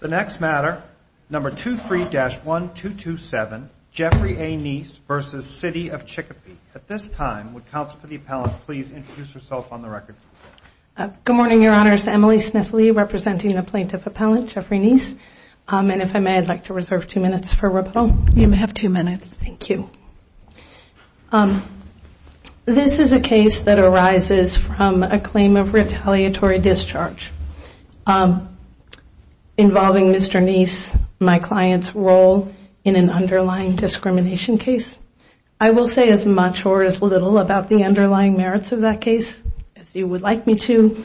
The next matter, number 23-1227, Jeffrey A. Neese v. City of Chicopee. At this time, would Counsel to the Appellant please introduce herself on the record? Good morning, Your Honors. Emily Smith Lee representing the Plaintiff Appellant, Jeffrey Neese. And if I may, I'd like to reserve two minutes for rebuttal. Thank you. This is a case that arises from a claim of retaliatory discharge involving Mr. Neese, my client's role in an underlying discrimination case. I will say as much or as little about the underlying merits of that case as you would like me to.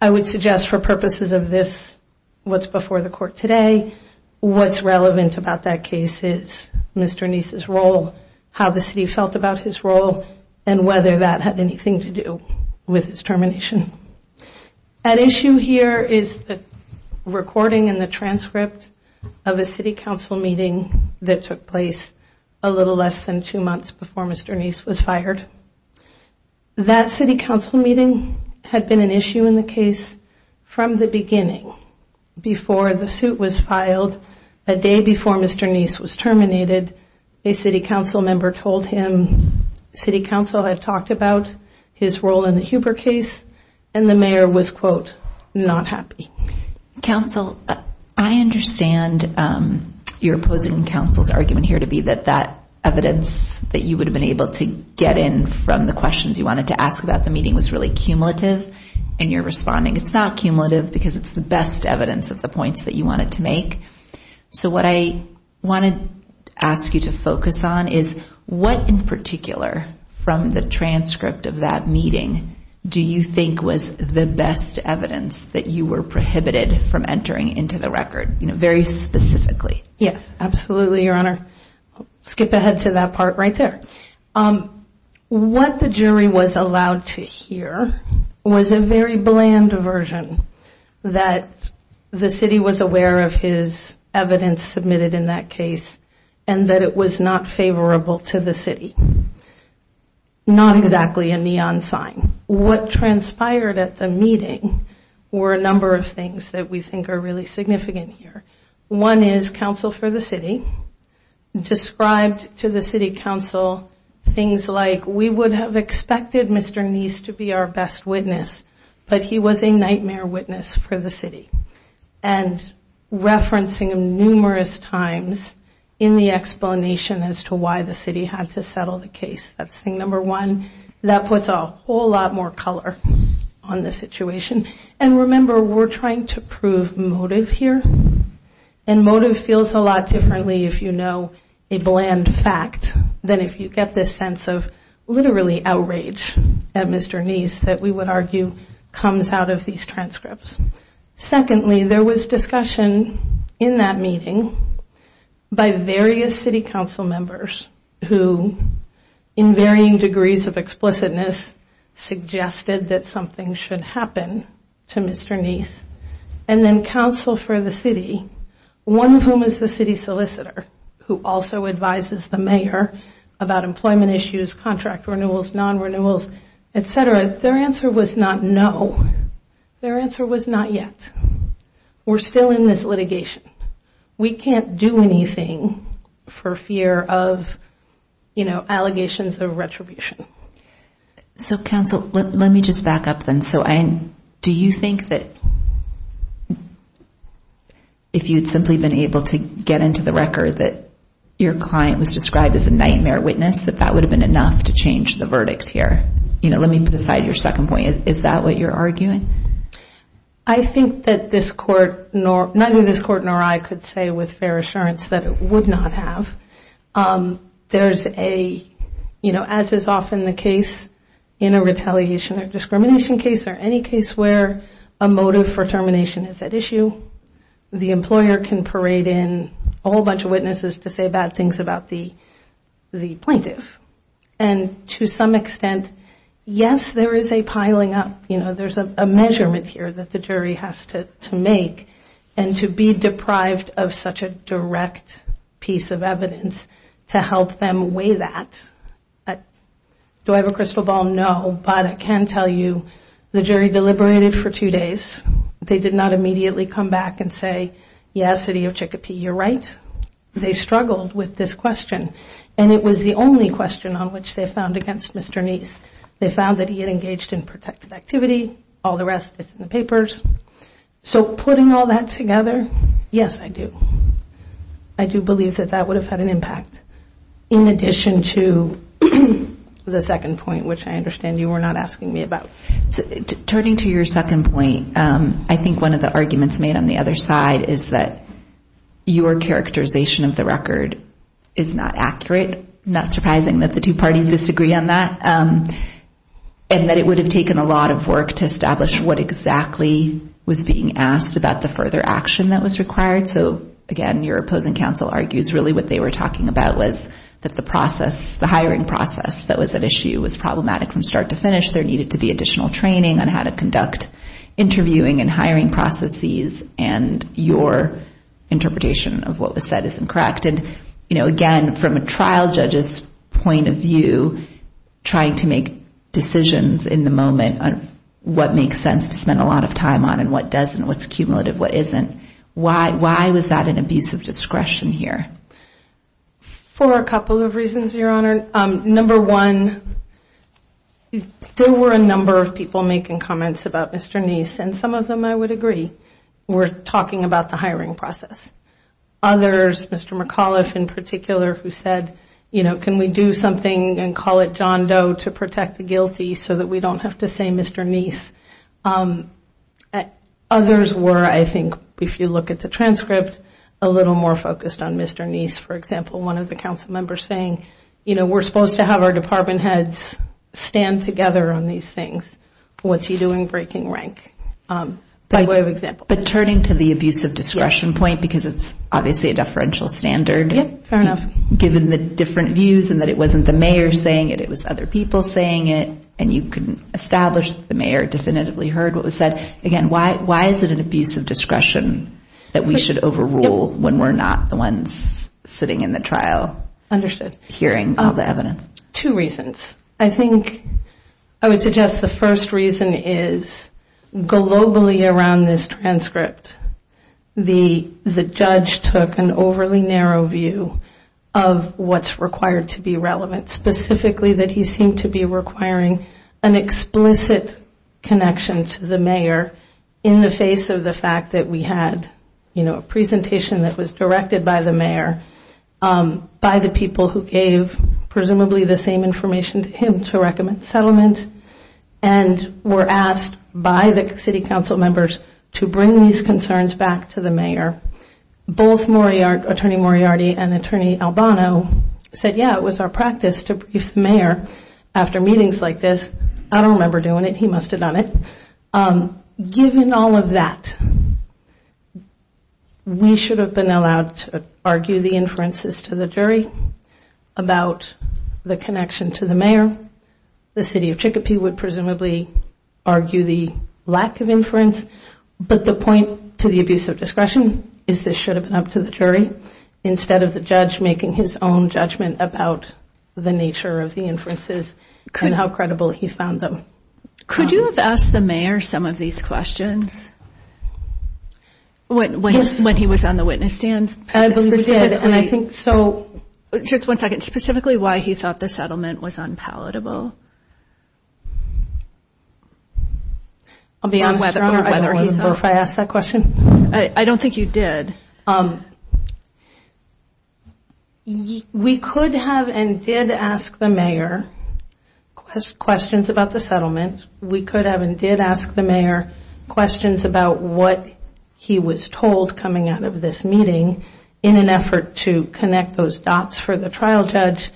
I would suggest for purposes of this, what's before the Court today, what's relevant about that case is Mr. Neese's role, how the City felt about his role, and whether that had anything to do with his termination. At issue here is the recording and the transcript of a City Council meeting that took place a little less than two months before Mr. Neese was fired. That City Council meeting had been an issue in the case from the beginning. Before the suit was filed, a day before Mr. Neese was terminated, a City Council member told him, City Council had talked about his role in the Huber case, and the Mayor was, quote, not happy. Counsel, I understand your opposing counsel's argument here to be that that evidence that you would have been able to get in from the questions you wanted to ask about the meeting was really cumulative, and you're responding it's not cumulative because it's the best evidence of the points that you wanted to make. So what I want to ask you to focus on is what in particular from the transcript of that meeting do you think was the best evidence that you were prohibited from entering into the record, very specifically? Yes, absolutely, Your Honor. Skip ahead to that part right there. What the jury was allowed to hear was a very bland version that the City was aware of his evidence submitted in that case and that it was not favorable to the City. Not exactly a neon sign. What transpired at the meeting were a number of things that we think are really significant here. One is counsel for the City described to the City Council things like we would have expected Mr. Neese to be our best witness, but he was a nightmare witness for the City, and referencing him numerous times in the explanation as to why the City had to settle the case. That's thing number one. That puts a whole lot more color on the situation. And remember, we're trying to prove motive here, and motive feels a lot differently if you know a bland fact than if you get this sense of literally outrage at Mr. Neese that we would argue comes out of these transcripts. Secondly, there was discussion in that meeting by various City Council members who, in varying degrees of explicitness, suggested that something should happen to Mr. Neese. And then counsel for the City, one of whom is the City solicitor, who also advises the Mayor about employment issues, contract renewals, non-renewals, etc. Their answer was not no. Their answer was not yet. We're still in this litigation. We can't do anything for fear of allegations of retribution. So counsel, let me just back up then. So do you think that if you'd simply been able to get into the record that your client was described as a nightmare witness, that that would have been enough to change the verdict here? Let me put aside your second point. Is that what you're arguing? I think that neither this Court nor I could say with fair assurance that it would not have. There's a, you know, as is often the case in a retaliation or discrimination case or any case where a motive for termination is at issue, the employer can parade in a whole bunch of witnesses to say bad things about the plaintiff. And to some extent, yes, there is a piling up. You know, there's a measurement here that the jury has to make. And to be deprived of such a direct piece of evidence to help them weigh that, do I have a crystal ball? No. But I can tell you the jury deliberated for two days. They did not immediately come back and say, yes, City of Chicopee, you're right. They struggled with this question. And it was the only question on which they found against Mr. Neese. They found that he had engaged in protective activity. All the rest is in the papers. So putting all that together, yes, I do. I do believe that that would have had an impact in addition to the second point, which I understand you were not asking me about. Turning to your second point, I think one of the arguments made on the other side is that your characterization of the record is not accurate. Not surprising that the two parties disagree on that. And that it would have taken a lot of work to establish what exactly was being asked about the further action that was required. So, again, your opposing counsel argues really what they were talking about was that the process, the hiring process that was at issue was problematic from start to finish. There needed to be additional training on how to conduct interviewing and hiring processes. And your interpretation of what was said isn't correct. And, you know, again, from a trial judge's point of view, trying to make decisions in the moment on what makes sense to spend a lot of time on and what doesn't, what's cumulative, what isn't, why was that an abuse of discretion here? For a couple of reasons, Your Honor. Number one, there were a number of people making comments about Mr. Neese. And some of them, I would agree, were talking about the hiring process. Others, Mr. McAuliffe in particular, who said, you know, can we do something and call it John Doe to protect the guilty so that we don't have to say Mr. Neese. Others were, I think, if you look at the transcript, a little more focused on Mr. Neese. For example, one of the council members saying, you know, we're supposed to have our department heads stand together on these things. What's he doing breaking rank? By way of example. But turning to the abuse of discretion point, because it's obviously a deferential standard. Yeah, fair enough. Given the different views and that it wasn't the mayor saying it, it was other people saying it. And you can establish that the mayor definitively heard what was said. Again, why is it an abuse of discretion that we should overrule when we're not the ones sitting in the trial hearing all the evidence? Two reasons. I think I would suggest the first reason is globally around this transcript, the judge took an overly narrow view of what's required to be relevant. Specifically that he seemed to be requiring an explicit connection to the mayor in the face of the fact that we had a presentation that was directed by the mayor. By the people who gave presumably the same information to him to recommend settlement. And were asked by the city council members to bring these concerns back to the mayor. Both Attorney Moriarty and Attorney Albano said, yeah, it was our practice to brief the mayor after meetings like this. I don't remember doing it. He must have done it. Given all of that, we should have been allowed to argue the inferences to the jury about the connection to the mayor. The city of Chicopee would presumably argue the lack of inference. But the point to the abuse of discretion is this should have been up to the jury instead of the judge making his own judgment about the nature of the inferences and how credible he found them. Could you have asked the mayor some of these questions when he was on the witness stand? Just one second. Specifically why he thought the settlement was unpalatable? I'll be honest. I don't remember if I asked that question. I don't think you did. We could have and did ask the mayor questions about the settlement. We could have and did ask the mayor questions about what he was told coming out of this meeting in an effort to connect those dots for the trial judge.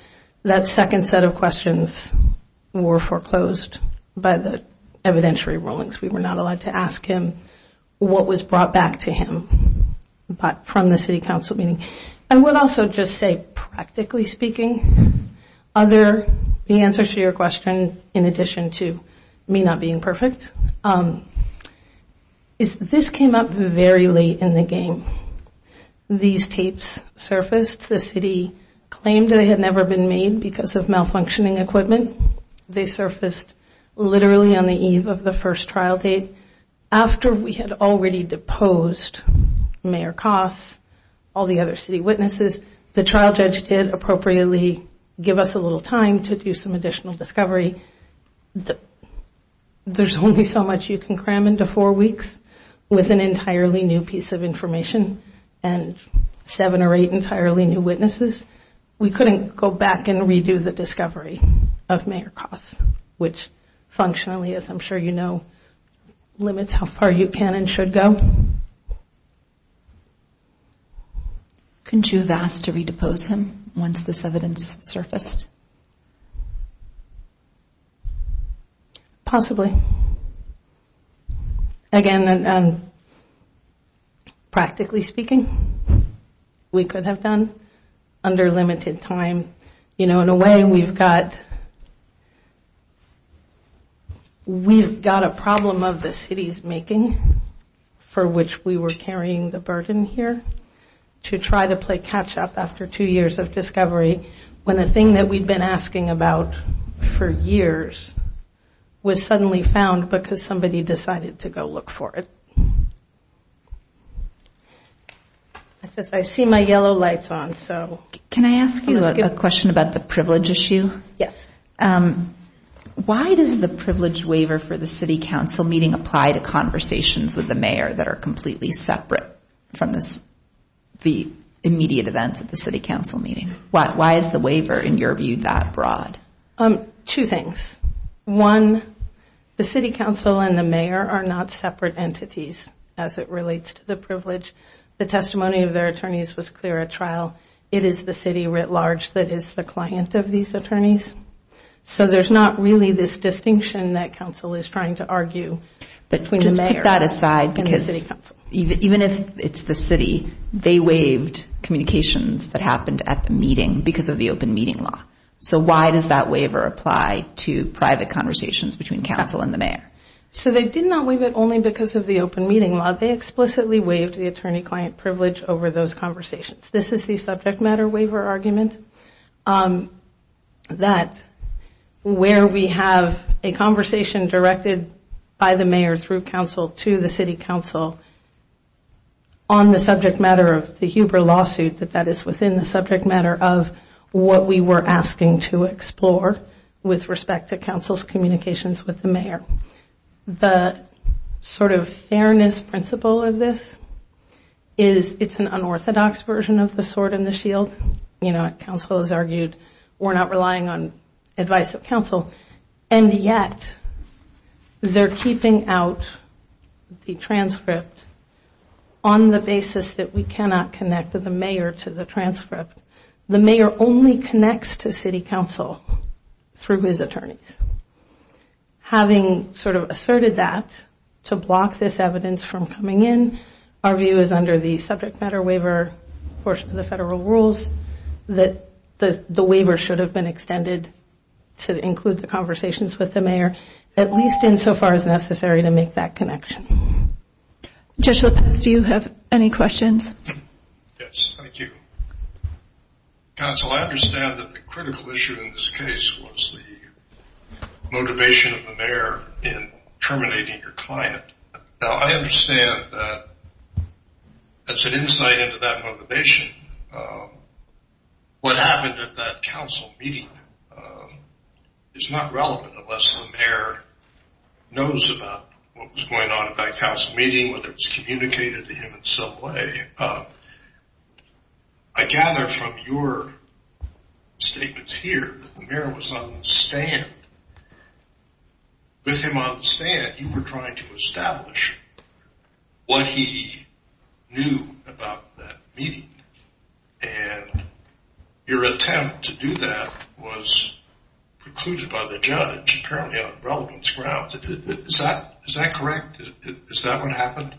That second set of questions were foreclosed by the evidentiary rulings. We were not allowed to ask him what was brought back to him from the city council meeting. I would also just say practically speaking, the answer to your question in addition to me not being perfect, is this came up very late in the game. These tapes surfaced. The city claimed they had never been made because of malfunctioning equipment. They surfaced literally on the eve of the first trial date. After we had already deposed Mayor Koss, all the other city witnesses, the trial judge did appropriately give us a little time to do some additional discovery. There's only so much you can cram into four weeks with an entirely new piece of information and seven or eight entirely new witnesses. We couldn't go back and redo the discovery of Mayor Koss, which functionally, as I'm sure you know, limits how far you can and should go. Couldn't you have asked to redepose him once this evidence surfaced? Possibly. Again, practically speaking, we could have done under limited time. In a way, we've got a problem of the city's making for which we were carrying the burden here to try to play catch up after two years of discovery when a thing that we'd been asking about for years was suddenly found because somebody decided to go look for it. I see my yellow lights on. Can I ask you a question about the privilege issue? Yes. Why does the privilege waiver for the city council meeting apply to conversations with the mayor that are completely separate from the immediate events of the city council meeting? Why is the waiver, in your view, that broad? Two things. One, the city council and the mayor are not separate entities as it relates to the privilege. The testimony of their attorneys was clear at trial. It is the city writ large that is the client of these attorneys. So there's not really this distinction that council is trying to argue between the mayor and the city council. because of the open meeting law. So why does that waiver apply to private conversations between council and the mayor? So they did not waive it only because of the open meeting law. They explicitly waived the attorney-client privilege over those conversations. This is the subject matter waiver argument. That where we have a conversation directed by the mayor through council to the city council on the subject matter of the Huber lawsuit, that that is within the subject matter of what we were asking to explore with respect to council's communications with the mayor. The sort of fairness principle of this is it's an unorthodox version of the sword and the shield. You know, council has argued we're not relying on advice of council. And yet, they're keeping out the transcript on the basis that we cannot connect the mayor to the transcript. The mayor only connects to city council through his attorneys. Having sort of asserted that to block this evidence from coming in, our view is under the subject matter waiver portion of the federal rules that the waiver should have been extended to include the conversations with the mayor, at least insofar as necessary to make that connection. Judge Lopez, do you have any questions? Yes, thank you. Council, I understand that the critical issue in this case was the motivation of the mayor in terminating your client. Now, I understand that that's an insight into that motivation. What happened at that council meeting is not relevant unless the mayor knows about what was going on at that council meeting, whether it was communicated to him in some way. I gather from your statements here that the mayor was on the stand. With him on the stand, you were trying to establish what he knew about that meeting. And your attempt to do that was concluded by the judge, apparently on relevance grounds. Is that correct? Is that what happened?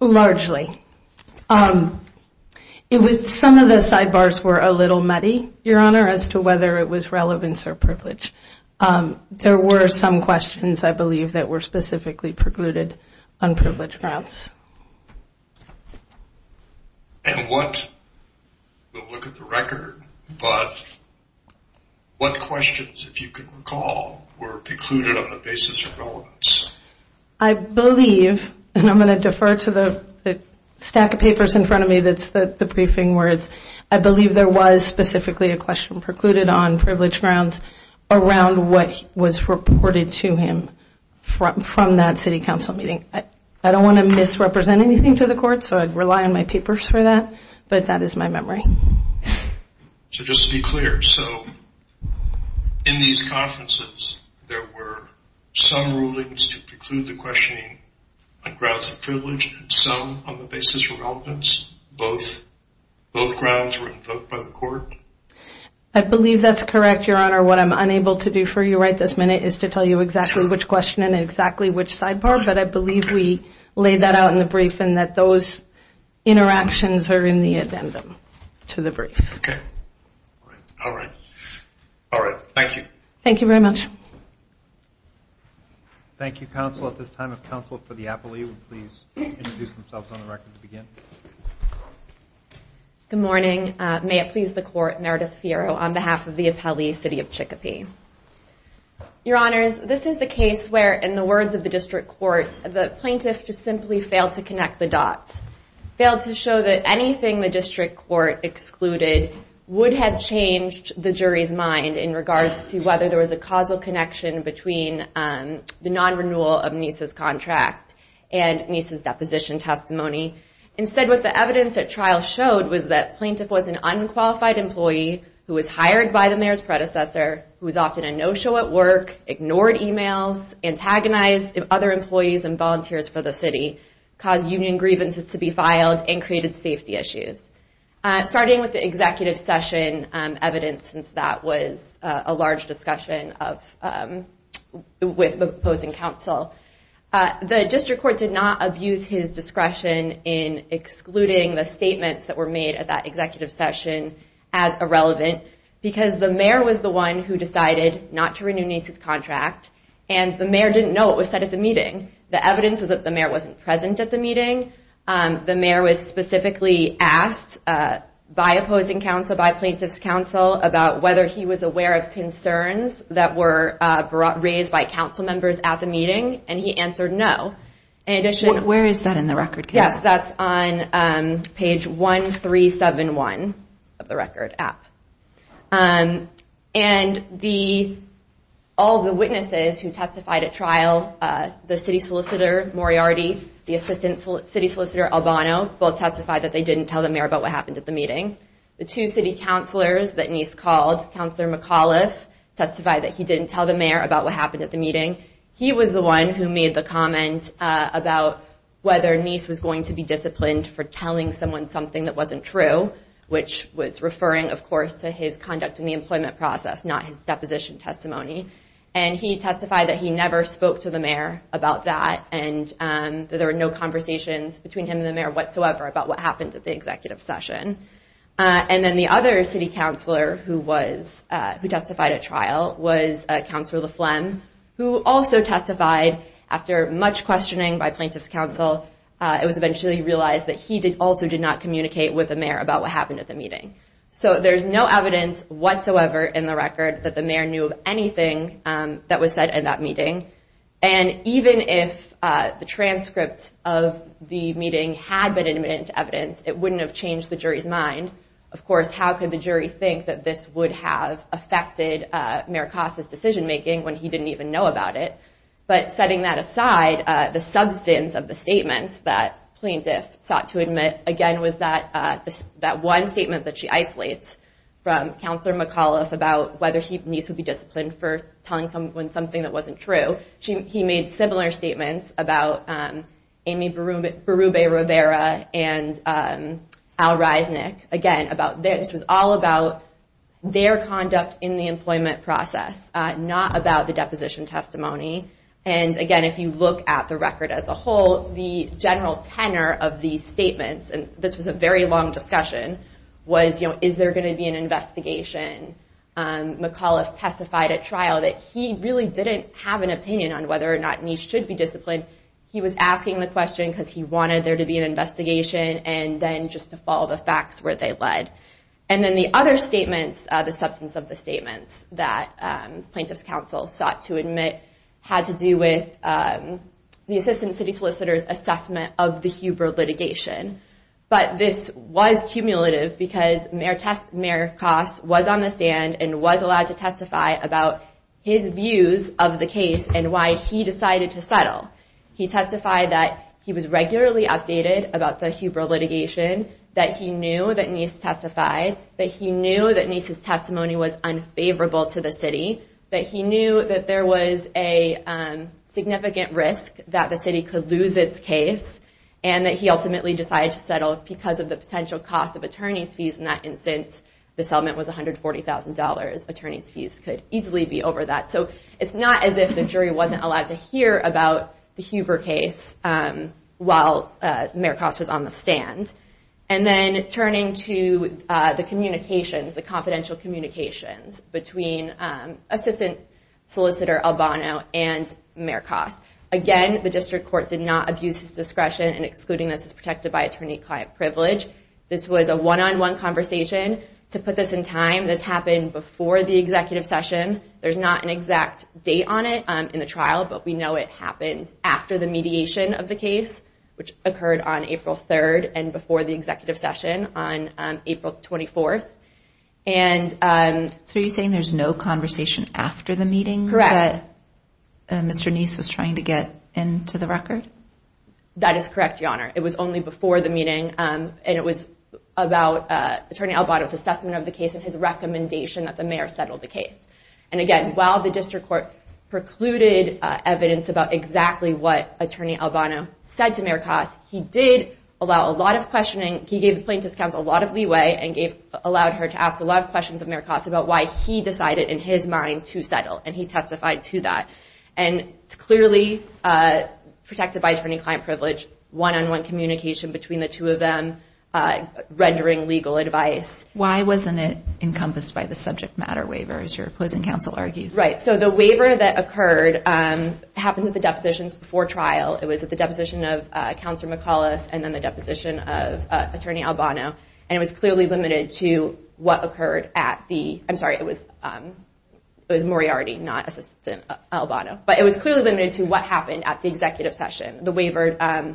Largely. Some of the sidebars were a little muddy, Your Honor, as to whether it was relevance or privilege. There were some questions, I believe, that were specifically precluded on privilege grounds. We'll look at the record, but what questions, if you can recall, were precluded on the basis of relevance? I believe, and I'm going to defer to the stack of papers in front of me that's the briefing words, I believe there was specifically a question precluded on privilege grounds around what was reported to him from that city council meeting. I don't want to misrepresent anything to the court, so I rely on my papers for that, but that is my memory. So just to be clear, so in these conferences, there were some rulings to preclude the questioning on grounds of privilege, and some on the basis of relevance? Both grounds were invoked by the court? I believe that's correct, Your Honor. What I'm unable to do for you right this minute is to tell you exactly which question and exactly which sidebar, but I believe we laid that out in the brief and that those interactions are in the addendum to the brief. All right. Thank you. Thank you very much. Thank you, counsel. At this time, if counsel for the appellee would please introduce themselves on the record to begin. Good morning. May it please the court, Meredith Fierro on behalf of the appellee, City of Chicopee. Your Honors, this is the case where, in the words of the district court, the plaintiff just simply failed to connect the dots, failed to show that anything the district court excluded would have changed the jury's mind in regards to whether there was a causal connection between the non-renewal of Nisa's contract and Nisa's deposition testimony. Instead, what the evidence at trial showed was that the plaintiff was an unqualified employee who was hired by the mayor's predecessor, who was often a no-show at work, ignored emails, antagonized other employees and volunteers for the city, caused union grievances to be filed, and created safety issues. Starting with the executive session evidence, since that was a large discussion with the opposing counsel, the district court did not abuse his discretion in excluding the statements that were made at that executive session as irrelevant, because the mayor was the one who decided not to renew Nisa's contract, and the mayor didn't know what was said at the meeting. The evidence was that the mayor wasn't present at the meeting. The mayor was specifically asked by opposing counsel, by plaintiff's counsel, about whether he was aware of concerns that were raised by council members at the meeting, and he answered no. Where is that in the record? Yes, that's on page 1371 of the record app. And all the witnesses who testified at trial, the city solicitor Moriarty, the assistant city solicitor Albano, both testified that they didn't tell the mayor about what happened at the meeting. The two city counselors that Nisa called, Counselor McAuliffe, testified that he didn't tell the mayor about what happened at the meeting. He was the one who made the comment about whether Nisa was going to be disciplined for telling someone something that wasn't true, which was referring, of course, to his conduct in the employment process, not his deposition testimony. And he testified that he never spoke to the mayor about that, and that there were no conversations between him and the mayor whatsoever about what happened at the executive session. And then the other city counselor who testified at trial was Counselor LaFlem, who also testified after much questioning by plaintiff's counsel. It was eventually realized that he also did not communicate with the mayor about what happened at the meeting. So there's no evidence whatsoever in the record that the mayor knew of anything that was said at that meeting. And even if the transcript of the meeting had been admitted into evidence, it wouldn't have changed the jury's mind. Of course, how could the jury think that this would have affected Mayor Costa's decision making when he didn't even know about it? But setting that aside, the substance of the statements that plaintiff sought to admit, again, was that one statement that she isolates from Counselor McAuliffe about whether Nisa would be disciplined for telling someone something that wasn't true. He made similar statements about Amy Berube-Rivera and Al Reisnick. Again, this was all about their conduct in the employment process, not about the deposition testimony. And again, if you look at the record as a whole, the general tenor of these statements, and this was a very long discussion, was is there going to be an investigation? McAuliffe testified at trial that he really didn't have an opinion on whether or not Nisa should be disciplined. He was asking the question because he wanted there to be an investigation, and then just to follow the facts where they led. And then the other statements, the substance of the statements that plaintiff's counsel sought to admit, had to do with the assistant city solicitor's assessment of the Huber litigation. But this was cumulative because Mayor Koss was on the stand and was allowed to testify about his views of the case and why he decided to settle. He testified that he was regularly updated about the Huber litigation, that he knew that Nisa testified, that he knew that Nisa's testimony was unfavorable to the city, that he knew that there was a significant risk that the city could lose its case, and that he ultimately decided to settle because of the potential cost of attorney's fees. In that instance, the settlement was $140,000. Attorney's fees could easily be over that. So it's not as if the jury wasn't allowed to hear about the Huber case while Mayor Koss was on the stand. And then turning to the communications, the confidential communications between assistant solicitor Albano and Mayor Koss. Again, the district court did not abuse his discretion in excluding this as protected by attorney-client privilege. This was a one-on-one conversation. To put this in time, this happened before the executive session. There's not an exact date on it in the trial, but we know it happened after the mediation of the case, which occurred on April 3rd and before the executive session on April 24th. So are you saying there's no conversation after the meeting that Mr. Nisa was trying to get into the record? That is correct, Your Honor. It was only before the meeting, and it was about Attorney Albano's assessment of the case and his recommendation that the mayor settle the case. And again, while the district court precluded evidence about exactly what Attorney Albano said to Mayor Koss, he did allow a lot of questioning. He gave the plaintiff's counsel a lot of leeway and allowed her to ask a lot of questions of Mayor Koss about why he decided in his mind to settle, and he testified to that. And it's clearly protected by attorney-client privilege, one-on-one communication between the two of them, rendering legal advice. Why wasn't it encompassed by the subject matter waiver, as your opposing counsel argues? Right. So the waiver that occurred happened at the depositions before trial. It was at the deposition of Counselor McAuliffe and then the deposition of Attorney Albano. And it was clearly limited to what occurred at the – I'm sorry, it was Moriarty, not Assistant Albano. But it was clearly limited to what happened at the executive session. The waiver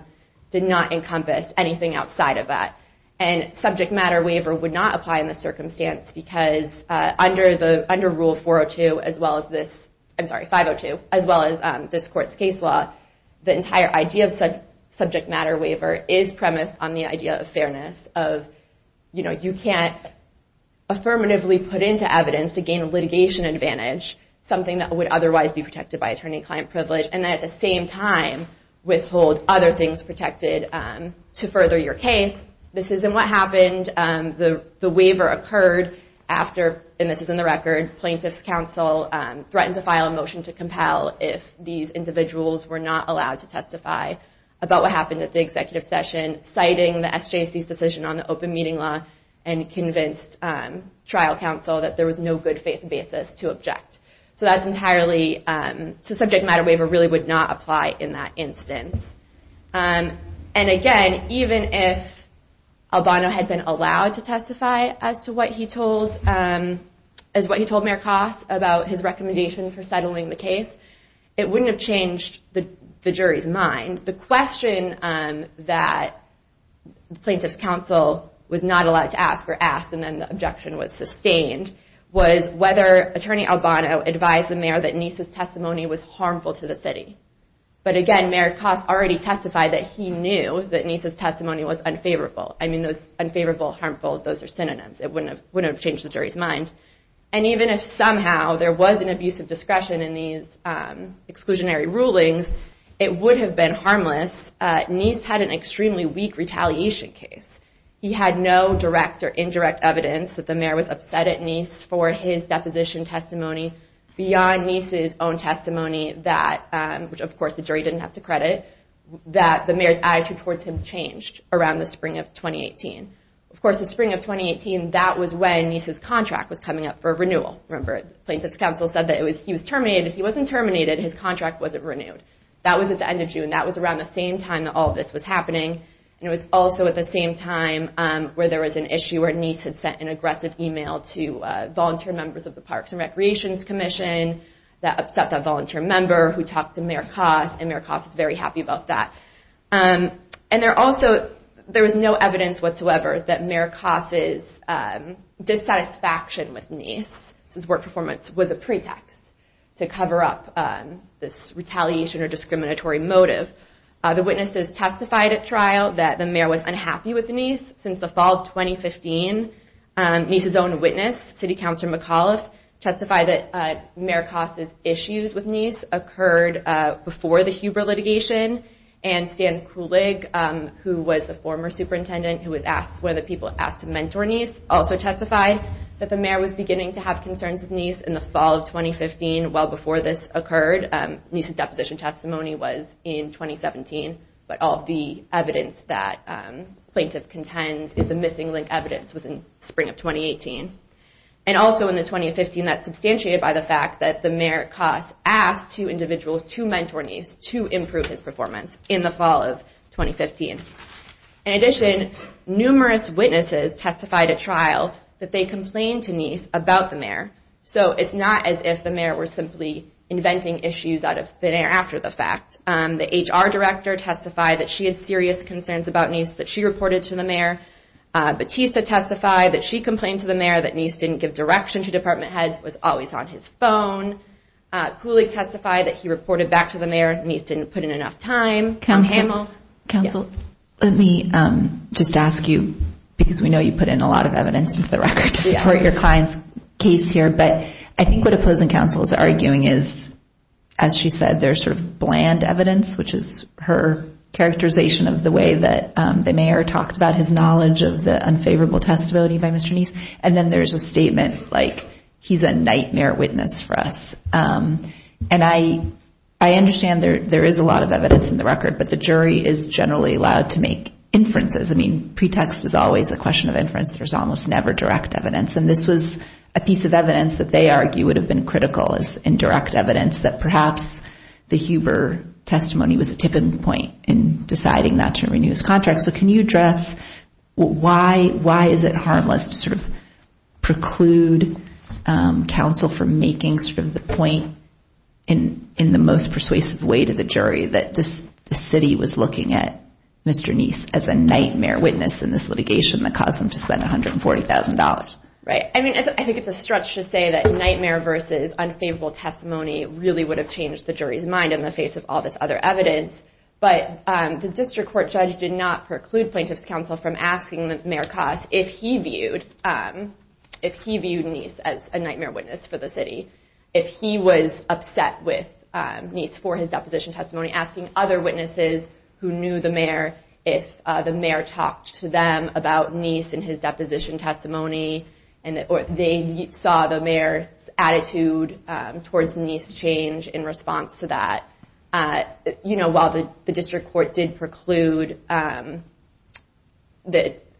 did not encompass anything outside of that. And subject matter waiver would not apply in this circumstance because under Rule 402, as well as this – the entire idea of subject matter waiver is premised on the idea of fairness, of you can't affirmatively put into evidence to gain a litigation advantage, something that would otherwise be protected by attorney-client privilege, and then at the same time withhold other things protected to further your case. This isn't what happened. The waiver occurred after – and this is in the record – plaintiff's counsel threatened to file a motion to compel if these individuals were not allowed to testify about what happened at the executive session, citing the SJC's decision on the open meeting law, and convinced trial counsel that there was no good faith basis to object. So that's entirely – so subject matter waiver really would not apply in that instance. And again, even if Albano had been allowed to testify as to what he told – as what he told Mayor Koss about his recommendation for settling the case, it wouldn't have changed the jury's mind. The question that plaintiff's counsel was not allowed to ask or asked, and then the objection was sustained, was whether Attorney Albano advised the mayor that Nisa's testimony was harmful to the city. But again, Mayor Koss already testified that he knew that Nisa's testimony was unfavorable. I mean, those – unfavorable, harmful – those are synonyms. It wouldn't have changed the jury's mind. And even if somehow there was an abuse of discretion in these exclusionary rulings, it would have been harmless. Nisa had an extremely weak retaliation case. He had no direct or indirect evidence that the mayor was upset at Nisa for his deposition testimony beyond Nisa's own testimony that – which, of course, the jury didn't have to credit – that the mayor's attitude towards him changed around the spring of 2018. Of course, the spring of 2018, that was when Nisa's contract was coming up for renewal. Remember, plaintiff's counsel said that he was terminated. He wasn't terminated. His contract wasn't renewed. That was at the end of June. That was around the same time that all of this was happening. And it was also at the same time where there was an issue where Nisa had sent an aggressive email to volunteer members of the Parks and Recreations Commission that upset that volunteer member who talked to Mayor Koss, and Mayor Koss was very happy about that. And there also – there was no evidence whatsoever that Mayor Koss's dissatisfaction with Nisa's work performance was a pretext to cover up this retaliation or discriminatory motive. The witnesses testified at trial that the mayor was unhappy with Nisa. Since the fall of 2015, Nisa's own witness, City Councilor McAuliffe, testified that Mayor Koss's issues with Nisa occurred before the Huber litigation and Stan Kulig, who was the former superintendent, who was one of the people asked to mentor Nisa, also testified that the mayor was beginning to have concerns with Nisa in the fall of 2015, well before this occurred. Nisa's deposition testimony was in 2017. But all of the evidence that plaintiff contends, the missing link evidence, was in spring of 2018. And also in the 2015, that's substantiated by the fact that the mayor, Mayor Koss, asked two individuals to mentor Nisa to improve his performance in the fall of 2015. In addition, numerous witnesses testified at trial that they complained to Nisa about the mayor. So it's not as if the mayor was simply inventing issues after the fact. The HR director testified that she had serious concerns about Nisa that she reported to the mayor. Batista testified that she complained to the mayor that Nisa didn't give direction to department heads. It was always on his phone. Kulig testified that he reported back to the mayor. Nisa didn't put in enough time. Counsel? Let me just ask you, because we know you put in a lot of evidence into the record to support your client's case here. But I think what opposing counsel is arguing is, as she said, there's sort of bland evidence, which is her characterization of the way that the mayor talked about his knowledge of the unfavorable testability by Mr. Nisa. And then there's a statement like, he's a nightmare witness for us. And I understand there is a lot of evidence in the record, but the jury is generally allowed to make inferences. I mean, pretext is always a question of inference. There's almost never direct evidence. And this was a piece of evidence that they argue would have been critical as indirect evidence, that perhaps the Huber testimony was a tipping point in deciding not to renew his contract. So can you address why is it harmless to sort of preclude counsel from making sort of the point in the most persuasive way to the jury that the city was looking at Mr. Nisa as a nightmare witness in this litigation that caused them to spend $140,000? Right. I mean, I think it's a stretch to say that nightmare versus unfavorable testimony really would have changed the jury's mind in the face of all this other evidence. But the district court judge did not preclude plaintiff's counsel from asking Mayor Koss if he viewed Nisa as a nightmare witness for the city, if he was upset with Nisa for his deposition testimony, asking other witnesses who knew the mayor if the mayor talked to them about Nisa and his deposition testimony, or if they saw the mayor's attitude towards Nisa change in response to that. You know, while the district court did preclude the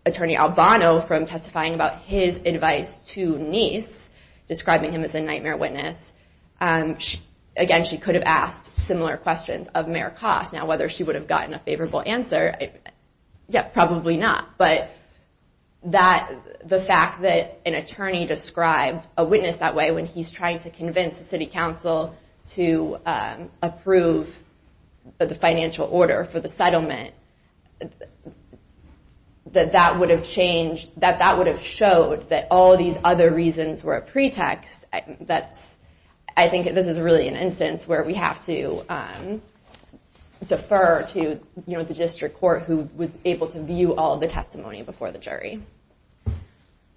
attorney Albano from testifying about his advice to Nisa, describing him as a nightmare witness, again, she could have asked similar questions of Mayor Koss. Now, whether she would have gotten a favorable answer, probably not. But the fact that an attorney described a witness that way when he's trying to convince the city council to approve the financial order for the settlement, that that would have showed that all these other reasons were a pretext, I think this is really an instance where we have to defer to the district court who was able to view all the testimony before the jury.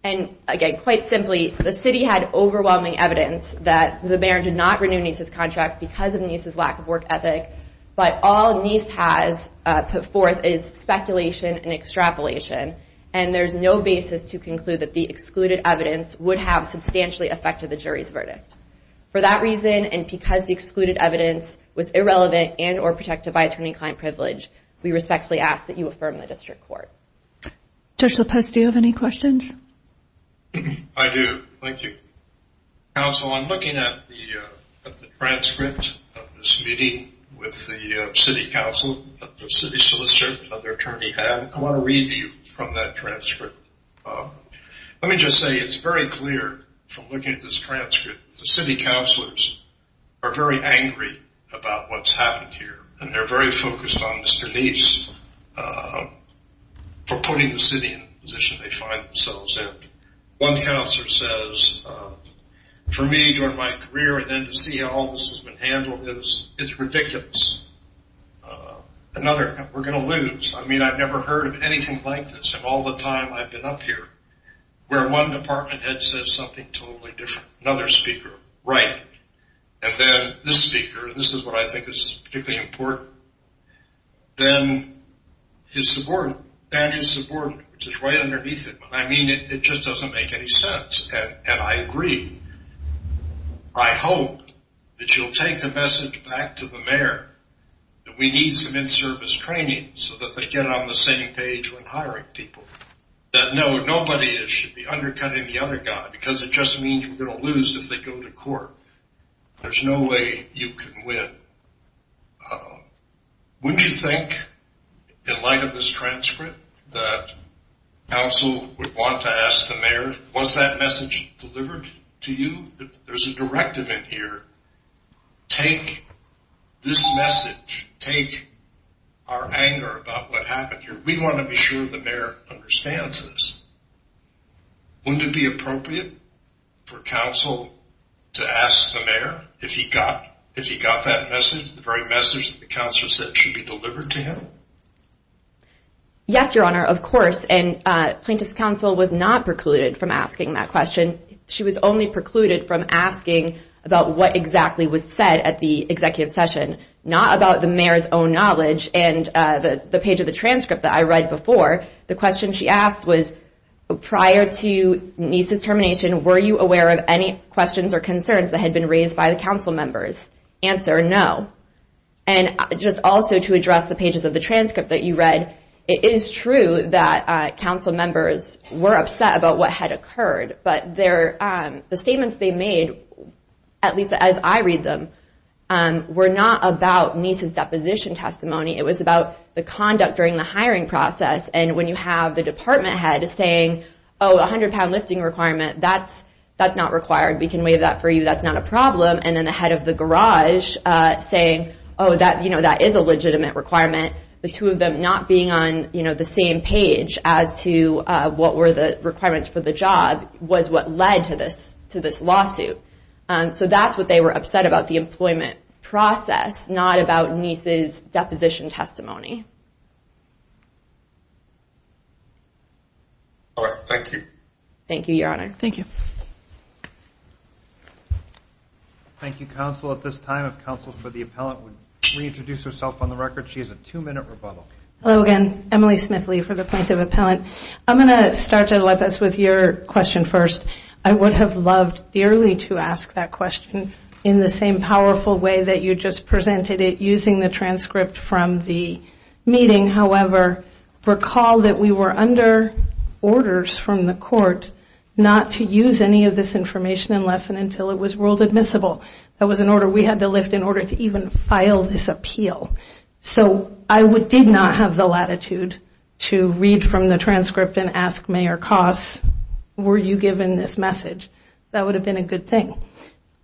And again, quite simply, the city had overwhelming evidence that the mayor did not renew Nisa's contract because of Nisa's lack of work ethic, but all Nisa has put forth is speculation and extrapolation, and there's no basis to conclude that the excluded evidence would have substantially affected the jury's verdict. For that reason, and because the excluded evidence was irrelevant and or protected by attorney-client privilege, we respectfully ask that you affirm the district court. Judge Lopez, do you have any questions? I do. Thank you. Counsel, I'm looking at the transcript of this meeting with the city council that the city solicitor and other attorney had. I want to read to you from that transcript. Let me just say it's very clear from looking at this transcript that the city counselors are very angry about what's happened here, and they're very focused on Mr. Leafs for putting the city in the position they find themselves in. One counselor says, for me, during my career, and then to see how all this has been handled is ridiculous. Another, we're going to lose. I mean, I've never heard of anything like this in all the time I've been up here where one department head says something totally different. Another speaker, right. And then this speaker, this is what I think is particularly important. Then his subordinate. That is subordinate, which is right underneath him. I mean, it just doesn't make any sense, and I agree. I hope that you'll take the message back to the mayor that we need some in-service training so that they get on the same page when hiring people, that nobody should be undercutting the other guy because it just means we're going to lose if they go to court. There's no way you can win. Wouldn't you think, in light of this transcript, that counsel would want to ask the mayor, was that message delivered to you? There's a directive in here. Take this message. Take our anger about what happened here. We want to be sure the mayor understands this. Wouldn't it be appropriate for counsel to ask the mayor if he got that message, the very message that the counselor said should be delivered to him? Yes, Your Honor, of course, and Plaintiff's Counsel was not precluded from asking that question. She was only precluded from asking about what exactly was said at the executive session, not about the mayor's own knowledge and the page of the transcript that I read before. The question she asked was, prior to Niese's termination, were you aware of any questions or concerns that had been raised by the council members? Answer, no. And just also to address the pages of the transcript that you read, it is true that council members were upset about what had occurred, but the statements they made, at least as I read them, were not about Niese's deposition testimony. It was about the conduct during the hiring process, and when you have the department head saying, oh, a 100-pound lifting requirement, that's not required. We can waive that for you. That's not a problem. And then the head of the garage saying, oh, that is a legitimate requirement. The two of them not being on the same page as to what were the requirements for the job was what led to this lawsuit. So that's what they were upset about, the employment process, not about Niese's deposition testimony. All right. Thank you. Thank you, Your Honor. Thank you. Thank you, counsel. At this time, if counsel for the appellant would reintroduce herself on the record. She has a two-minute rebuttal. Hello again. Emily Smithley for the point of appellant. I'm going to start, Jedalefis, with your question first. I would have loved dearly to ask that question in the same powerful way that you just presented it using the transcript from the meeting. However, recall that we were under orders from the court not to use any of this information unless and until it was ruled admissible. That was an order we had to lift in order to even file this appeal. So I did not have the latitude to read from the transcript and ask Mayor Koss, were you given this message? That would have been a good thing.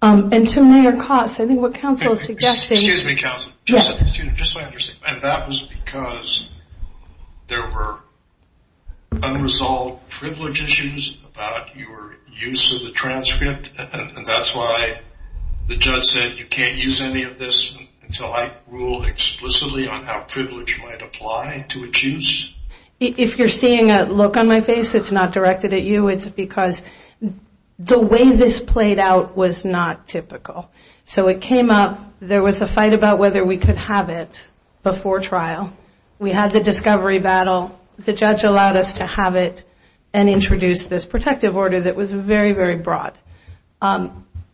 And to Mayor Koss, I think what counsel is suggesting is... Excuse me, counsel. Yes. Just so I understand. That was because there were unresolved privilege issues about your use of the transcript, and that's why the judge said you can't use any of this until I rule explicitly on how privilege might apply to a juice? If you're seeing a look on my face, it's not directed at you. It's because the way this played out was not typical. So it came up. There was a fight about whether we could have it before trial. We had the discovery battle. The judge allowed us to have it and introduce this protective order that was very, very broad.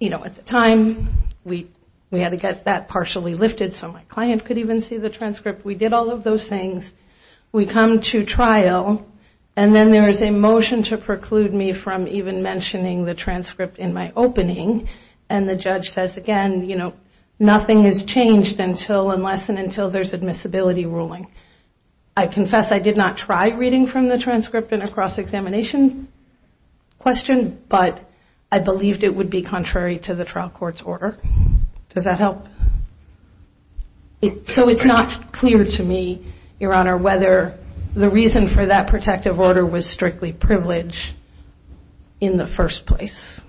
You know, at the time, we had to get that partially lifted so my client could even see the transcript. We did all of those things. We come to trial, and then there is a motion to preclude me from even mentioning the transcript in my opening, and the judge says, again, you know, nothing has changed unless and until there's admissibility ruling. I confess I did not try reading from the transcript in a cross-examination question, but I believed it would be contrary to the trial court's order. Does that help? So it's not clear to me, Your Honor, whether the reason for that protective order was strictly privilege in the first place,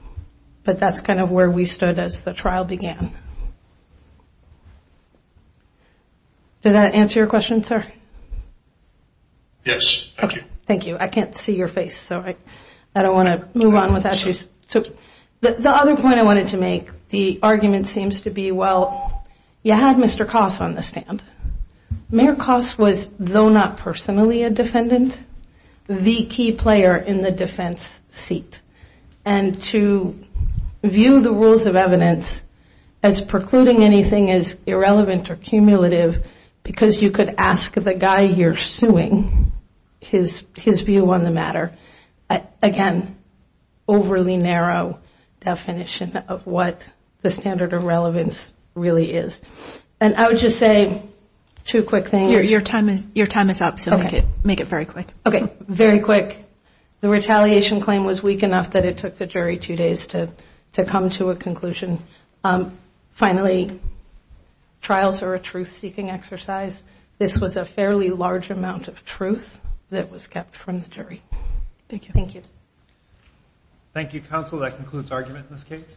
but that's kind of where we stood as the trial began. Does that answer your question, sir? Yes, thank you. Thank you. I can't see your face, so I don't want to move on without you. The other point I wanted to make, the argument seems to be, well, you had Mr. Koss on the stand. Mayor Koss was, though not personally a defendant, the key player in the defense seat, and to view the rules of evidence as precluding anything as irrelevant or cumulative because you could ask the guy you're suing his view on the matter, again, overly narrow definition of what the standard of relevance really is. And I would just say two quick things. Your time is up, so make it very quick. Okay, very quick. The retaliation claim was weak enough that it took the jury two days to come to a conclusion. Finally, trials are a truth-seeking exercise. This was a fairly large amount of truth that was kept from the jury. Thank you. Thank you. Thank you, counsel. That concludes argument in this case.